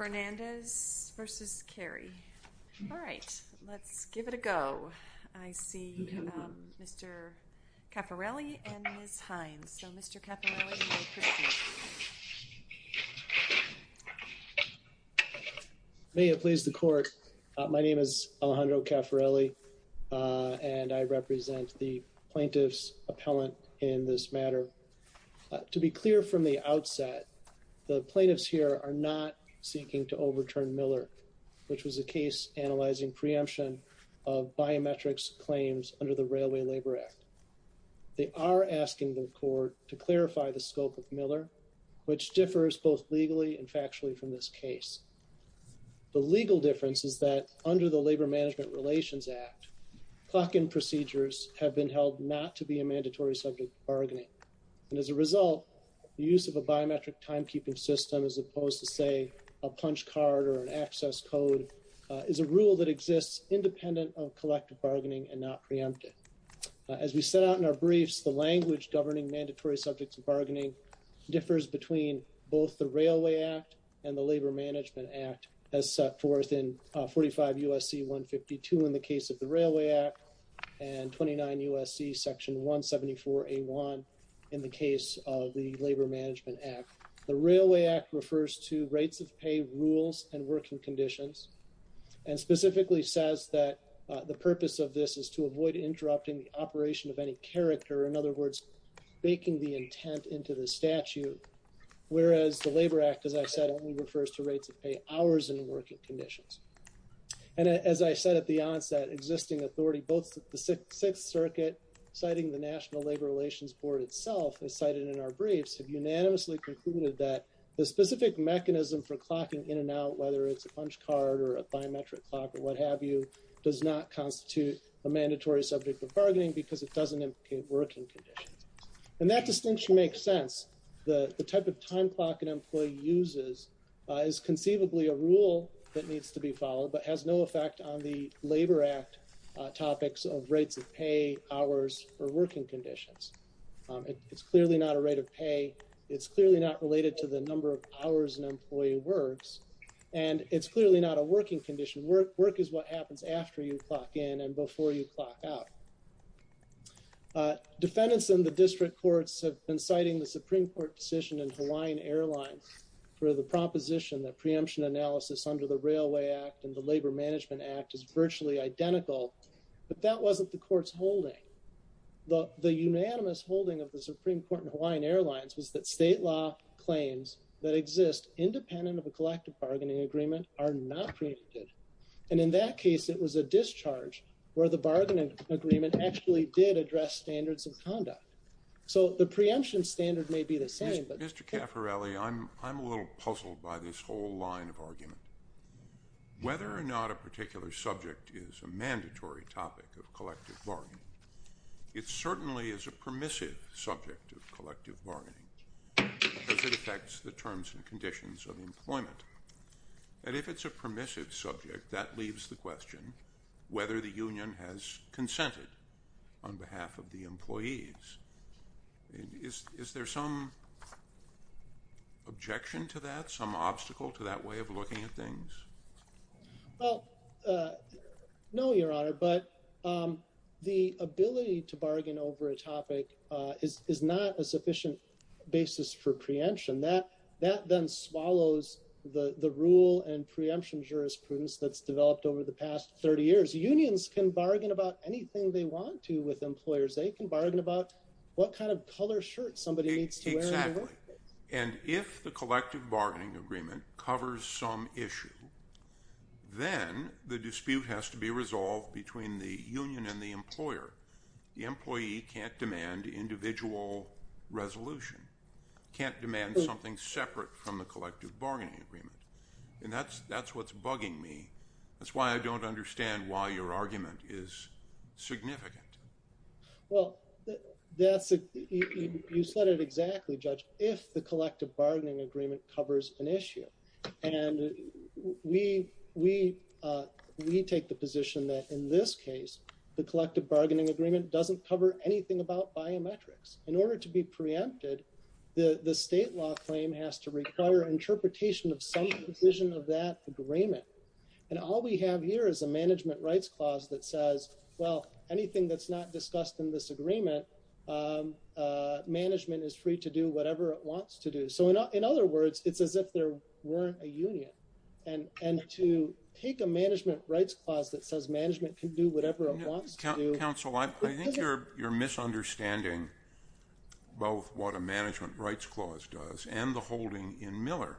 All right, let's give it a go. I see Mr. Caffarelli and Ms. Hines. So Mr. Caffarelli, you may proceed. May it please the court, my name is Alejandro Caffarelli and I represent the plaintiff's appellant in this matter. To be clear from the outset, the plaintiffs here are not seeking to overturn Miller, which was a case analyzing preemption of biometrics claims under the Railway Labor Act. They are asking the court to clarify the scope of Miller, which differs both legally and factually from this case. The legal difference is that under the Labor Mandatory Subject to Bargaining, and as a result, the use of a biometric timekeeping system as opposed to, say, a punch card or an access code, is a rule that exists independent of collective bargaining and not preemptive. As we set out in our briefs, the language governing Mandatory Subjects to Bargaining differs between both the Railway Act and the Labor Management Act as set forth in 45 U.S.C. 152 in the case of the Railway Act and 29 U.S.C. Section 174A1 in the case of the Labor Management Act. The Railway Act refers to rates of pay, rules, and working conditions, and specifically says that the purpose of this is to avoid interrupting the operation of any character, in other words, baking the intent into the statute, whereas the Labor Act, as I said, only refers to rates of pay hours and working conditions. And as I said at the onset, existing authority, both the U.S. Circuit, citing the National Labor Relations Board itself, as cited in our briefs, have unanimously concluded that the specific mechanism for clocking in and out, whether it's a punch card or a biometric clock or what have you, does not constitute a Mandatory Subject to Bargaining because it doesn't implicate working conditions. And that distinction makes sense. The type of time clock an employee uses is conceivably a rule that needs to be followed but has no effect on the Labor Act topics of rates of pay, hours, or working conditions. It's clearly not a rate of pay. It's clearly not related to the number of hours an employee works. And it's clearly not a working condition. Work is what happens after you clock in and before you clock out. Defendants in the District Courts have been citing the Supreme Court decision in Hawaiian Airlines for the proposition that preemption analysis under the Railway Act and the Labor Management Act is virtually identical, but that wasn't the Court's holding. The unanimous holding of the Supreme Court in Hawaiian Airlines was that state law claims that exist independent of a collective bargaining agreement are not preempted. And in that case, it was a discharge where the bargaining agreement actually did address standards of conduct. So the preemption standard may be the same, but... I'm a little puzzled by this whole line of argument. Whether or not a particular subject is a mandatory topic of collective bargaining, it certainly is a permissive subject of collective bargaining because it affects the terms and conditions of employment. And if it's a permissive subject, that leaves the question whether the union has consented on behalf of the employees. Is there some objection to that, some obstacle to that way of looking at things? Well, no, Your Honor, but the ability to bargain over a topic is not a sufficient basis for preemption. That then swallows the rule and preemption jurisprudence that's developed over the past 30 years. Unions can bargain about anything they want to with employers. They can bargain about what kind of color shirt somebody needs to wear in the workplace. Exactly. And if the collective bargaining agreement covers some issue, then the dispute has to be resolved between the union and the employer. The employee can't demand individual resolution, can't demand something separate from the collective bargaining agreement. And that's that's what's bugging me. That's why I don't understand why your argument is significant. Well, that's it. You said it exactly, Judge. If the collective bargaining agreement covers an issue and we we we take the position that in this case, the collective bargaining agreement doesn't cover anything about biometrics in order to be preempted, the state law claim has to require interpretation of some provision of that agreement. And all we have here is a management rights clause that says, well, anything that's not discussed in this agreement, management is free to do whatever it wants to do. So in other words, it's as if there weren't a union. And to take a management rights clause that says management can do whatever it wants to do. Counsel, I think you're you're misunderstanding both what a management rights clause does and the holding in Miller.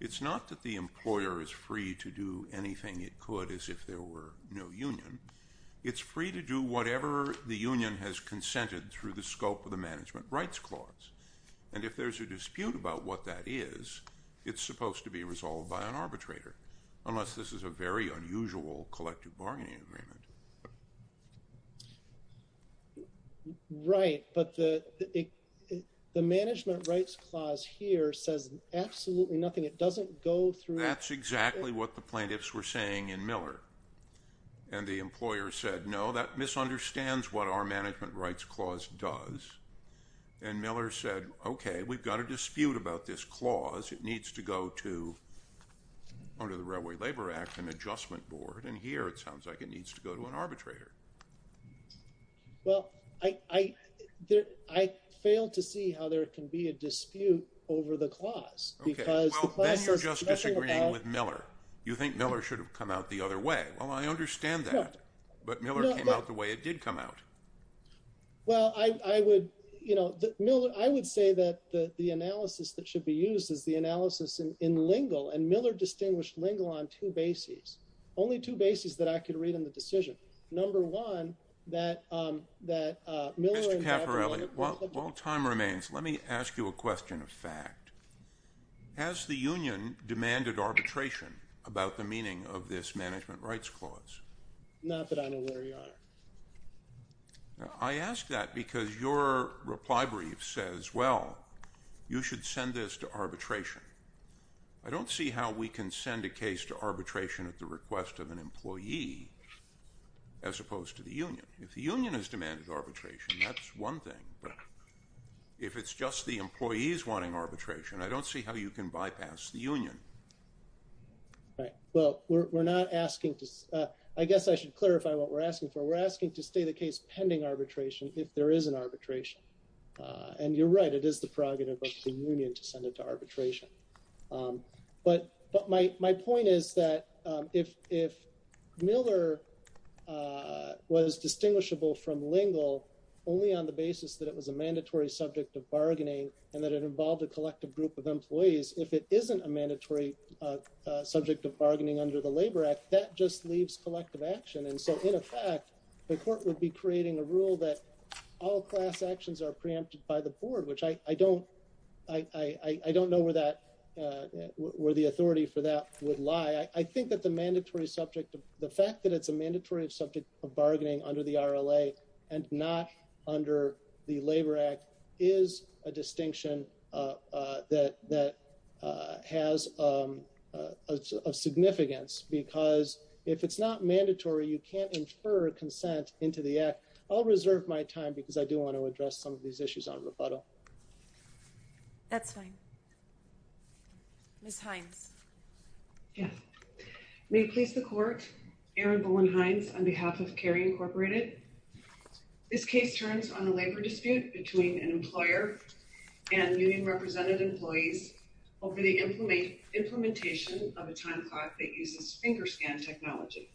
It's not that the employer is free to do anything it could as if there were no union. It's free to do whatever the union has consented through the scope of the management rights clause. And if there's a dispute about what that is, it's supposed to be resolved by an arbitrator, unless this is a very unusual collective bargaining agreement. Right. But the the management rights clause here says absolutely nothing. It doesn't go through. That's exactly what the plaintiffs were saying in Miller. And the employer said, no, that misunderstands what our management rights clause does. And Miller said, OK, we've got a dispute about this clause. It needs to go to under the Railway Labor Act and Adjustment Board. And here it sounds like it needs to go to an arbitrator. Well, I, I, I failed to see how there can be a dispute over the clause. OK, well, then you're just disagreeing with Miller. You think Miller should have come out the other way. Well, I understand that. But Miller came out the way it did come out. Well, I would, you know, Miller, I would say that the analysis that should be used is the analysis in Lingle. And Miller distinguished Lingle on two bases, only two bases that I could read in the decision. Number one, that that Miller. Mr. Caffarelli, while time remains, let me ask you a question of fact. Has the union demanded arbitration about the meaning of this management rights clause? Not that I know where you are. I ask that because your reply brief says, well, you should send this to arbitration. I don't see how we can send a case to arbitration at the request of an employee as opposed to the union. If the union has demanded arbitration, that's one thing. But if it's just the employees wanting arbitration, I don't see how you can bypass the union. Right. Well, we're not asking to. I guess I should clarify what we're asking for. We're asking to stay the case pending arbitration if there is an arbitration. And you're right, it is the prerogative of the union to send it to arbitration. But but my my point is that if if Miller was distinguishable from Lingle only on the basis that it was a mandatory subject of bargaining and that it involved a collective group of employees, if it isn't a mandatory subject of bargaining under the Labor Act, that just leaves collective action. And so, in effect, the court would be creating a rule that all class actions are preempted by the board, which I don't I don't know where that where the authority for that would lie. I think that the mandatory subject, the fact that it's a mandatory subject of bargaining under the R.L.A. and not under the Labor Act is a distinction that that has a significance because if it's not mandatory, you can't infer consent into the act. I'll reserve my time because I do want to address some of these issues on rebuttal. That's fine. Ms. Hines. Yes. May it please the court. Erin Bowen Hines on behalf of Cary Incorporated. This case turns on the labor dispute between an employer and union represented employees over the implementation of a time clock that uses finger scan technology.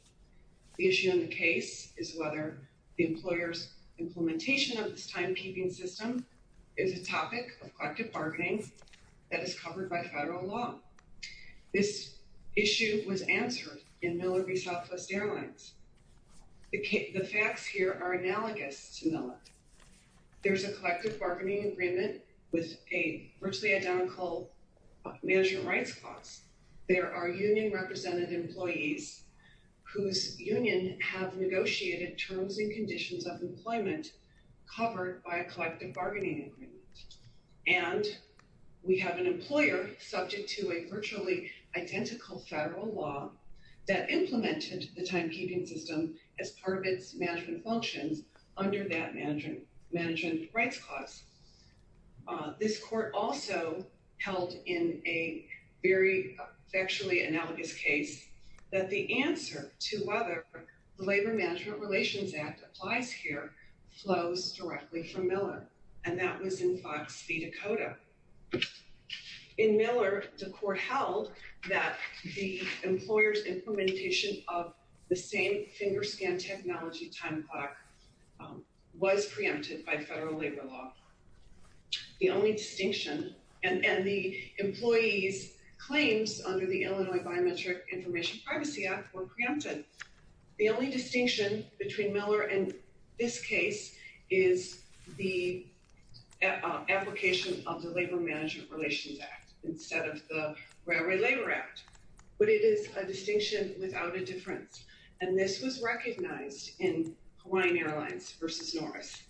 The issue in the case is whether the employer's implementation of this timekeeping system is a topic of collective bargaining that is covered by federal law. This issue was answered in Miller v. Southwest Airlines. The facts here are analogous to Miller. There's a collective bargaining agreement with a virtually identical management rights clause. There are union represented employees whose union have negotiated terms and conditions of employment covered by a collective bargaining agreement. And we have an employer subject to a virtually identical federal law that implemented the timekeeping system as part of its management functions under that management rights clause. This court also held in a very factually analogous case that the answer to whether the Labor Management Relations Act applies here flows directly from Miller and that was in Fox v. Dakota. In Miller, the court held that the employer's implementation of the same finger scan technology time clock was preempted by federal labor law. The only distinction and the employees' claims under the Illinois Biometric Information Privacy Act were preempted. The only distinction between Miller and this case is the application of the Labor Management Relations Act instead of the Railroad Labor Act. But it is a distinction without a difference. And this was recognized in Hawaiian Airlines v. Norris.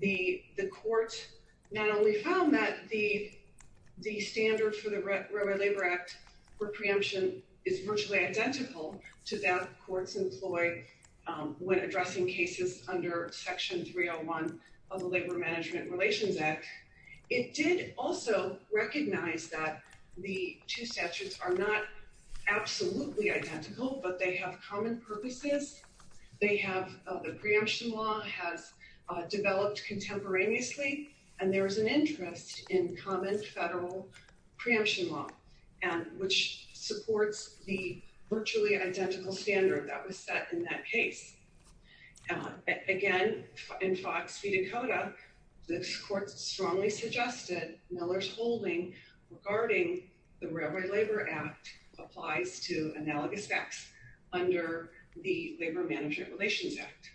The court not only found that the standard for the Railroad Labor Act for preemption is virtually identical to that courts employ when addressing cases under Section 301 of the Labor Management Relations Act. It did also recognize that the two statutes are not absolutely identical but they have common purposes. They have the preemption law has developed contemporaneously and there is an interest in common federal preemption law and which supports the virtually identical standard that was set in that case. Again in Fox v. Dakota, this court strongly suggested Miller's holding regarding the Railroad Labor Act applies to analogous facts under the Labor Management Relations Act.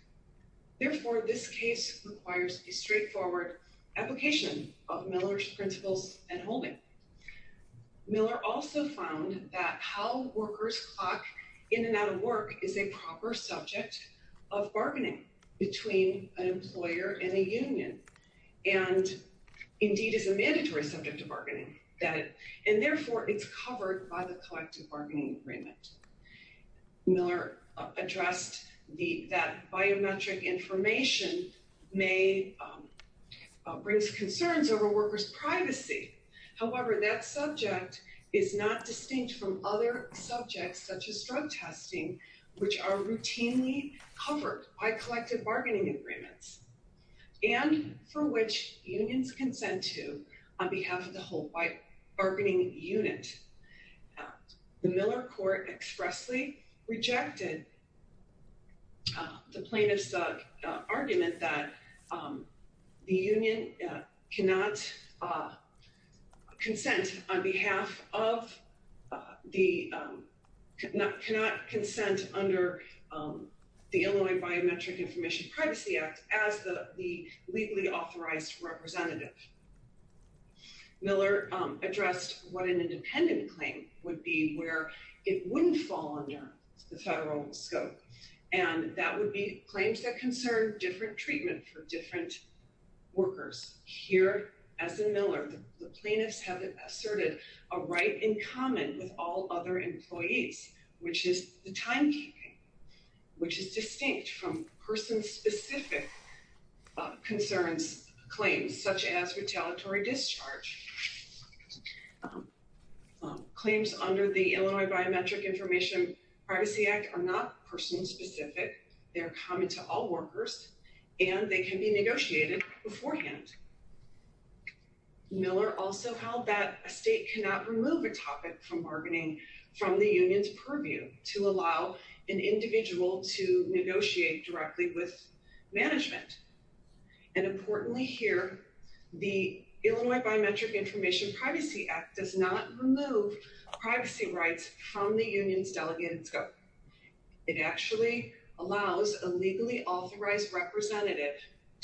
Therefore, this case requires a straightforward application of Miller's principles and holding. Miller also found that how workers clock in and out of work is a proper subject of bargaining between an employer and a union and indeed is a mandatory subject of bargaining and therefore it's covered by the collective bargaining agreement. Miller addressed that biometric information may raise concerns over workers' privacy. However, that subject is not covered by collective bargaining agreements and for which unions consent to on behalf of the whole bargaining unit. The Miller court expressly rejected the plaintiff's argument that the union cannot consent under the Illinois Biometric Information Privacy Act as the legally authorized representative. Miller addressed what an independent claim would be where it wouldn't fall under the federal scope and that would be claims that concern different treatment for different workers. Here, as in Miller, the plaintiffs have asserted a right in common with all other employees which is the timekeeping which is distinct from person-specific concerns claims such as retaliatory discharge. Claims under the Illinois Biometric Information Privacy Act are not person-specific. They're common to all workers and they can be negotiated beforehand. Miller also held that a state cannot remove a topic from bargaining from the union's purview to allow an individual to negotiate directly with management and importantly here the Illinois Biometric Information Privacy Act does not remove privacy rights from the union's delegated scope. It actually allows a legally authorized representative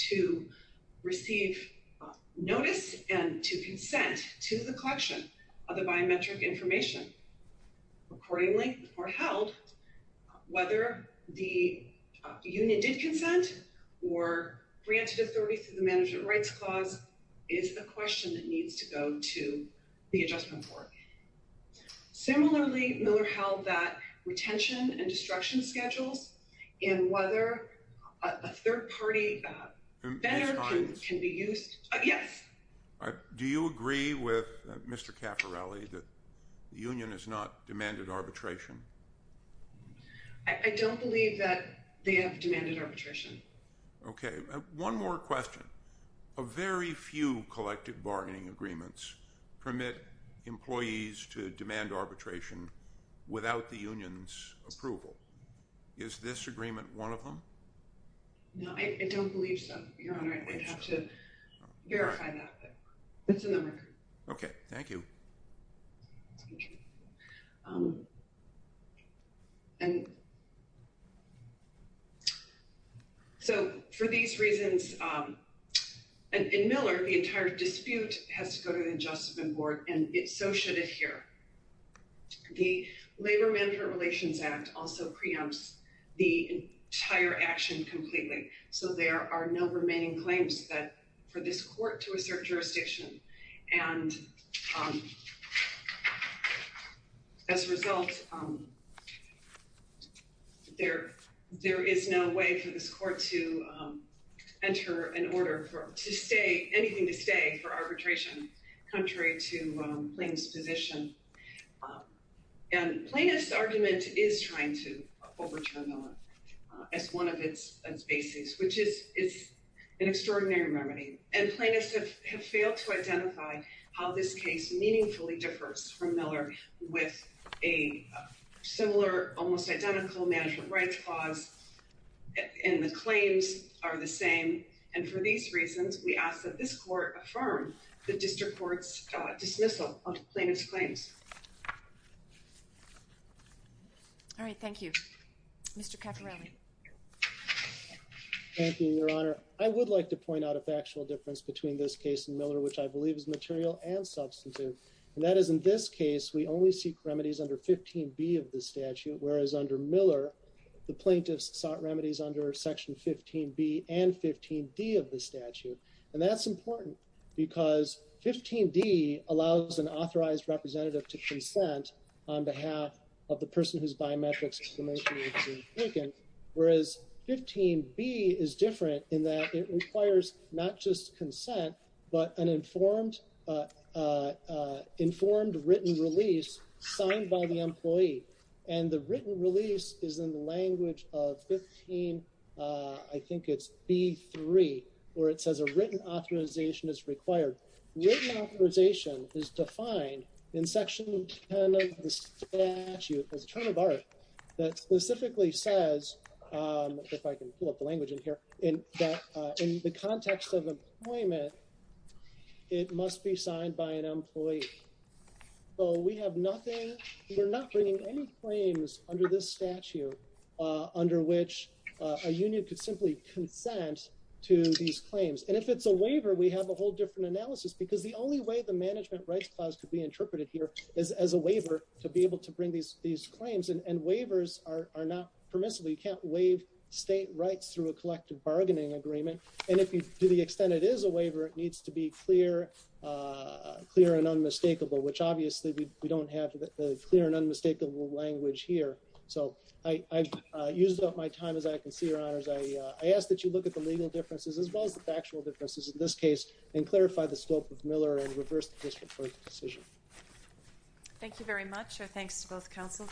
to receive notice and to consent to the collection of the biometric information accordingly or held whether the union did consent or granted authority through the Management Rights Clause is the question that needs to go to the Adjustment Board. Similarly, Miller held that retention and destruction schedules and whether a third party can be used. Yes. Do you agree with Mr. Caffarelli that the union has not demanded arbitration? I don't believe that they have demanded arbitration. Okay, one more question. A very few collective bargaining agreements permit employees to demand arbitration without the union's approval. Is this agreement one of them? No, I don't believe so, Your Honor. I'd have to verify that. It's in the record. Okay, thank you. And so for these reasons, and in Miller, the entire dispute has to go to the Adjustment Board and it so should adhere. The Labor-Management Relations Act also preempts the entire action completely, so there are no remaining claims for this court to assert jurisdiction. And as a result, there is no way for this court to enter an order for anything to stay for arbitration contrary to Plaintiff's position. And Plaintiff's argument is trying to overturn Miller as one of its basics, which is an extraordinary remedy. And Plaintiffs have failed to identify how this case meaningfully differs from Miller with a similar, almost identical, management rights clause and the claims are the same. And for these reasons, we ask that this court dismissal of Plaintiff's claims. All right, thank you. Mr. Caporelli. Thank you, Your Honor. I would like to point out a factual difference between this case and Miller, which I believe is material and substantive, and that is in this case, we only seek remedies under 15b of the statute, whereas under Miller, the Plaintiffs sought remedies under Section 15b and 15d of the statute. And that's important because 15d allows an authorized representative to consent on behalf of the person whose biometrics is the most significant, whereas 15b is different in that it requires not just consent, but an informed written release signed by the employee. And the written release is in the language of 15, I think it's b3, where it says a written authorization is required. Written authorization is defined in Section 10 of the statute as a term of art that specifically says, if I can pull up the language in here, in the context of employment, it must be signed by an employee. So we have nothing, we're not bringing any claims under this statute under which a union could simply consent to these claims. And if it's a waiver, we have a whole different analysis because the only way the management rights clause could be interpreted here is as a waiver to be able to bring these claims, and waivers are not permissible. You can't waive state rights through a collective bargaining agreement. And if you do the extent it is a waiver, it needs to be clear and unmistakable, which obviously we don't have the clear and unmistakable language here. So I've used up my time as I can see, Your Honors. I ask that you look at the legal differences as well as the factual differences in this case and clarify the scope of Miller and reverse the case report decision. Thank you very much, and thanks to both counsels.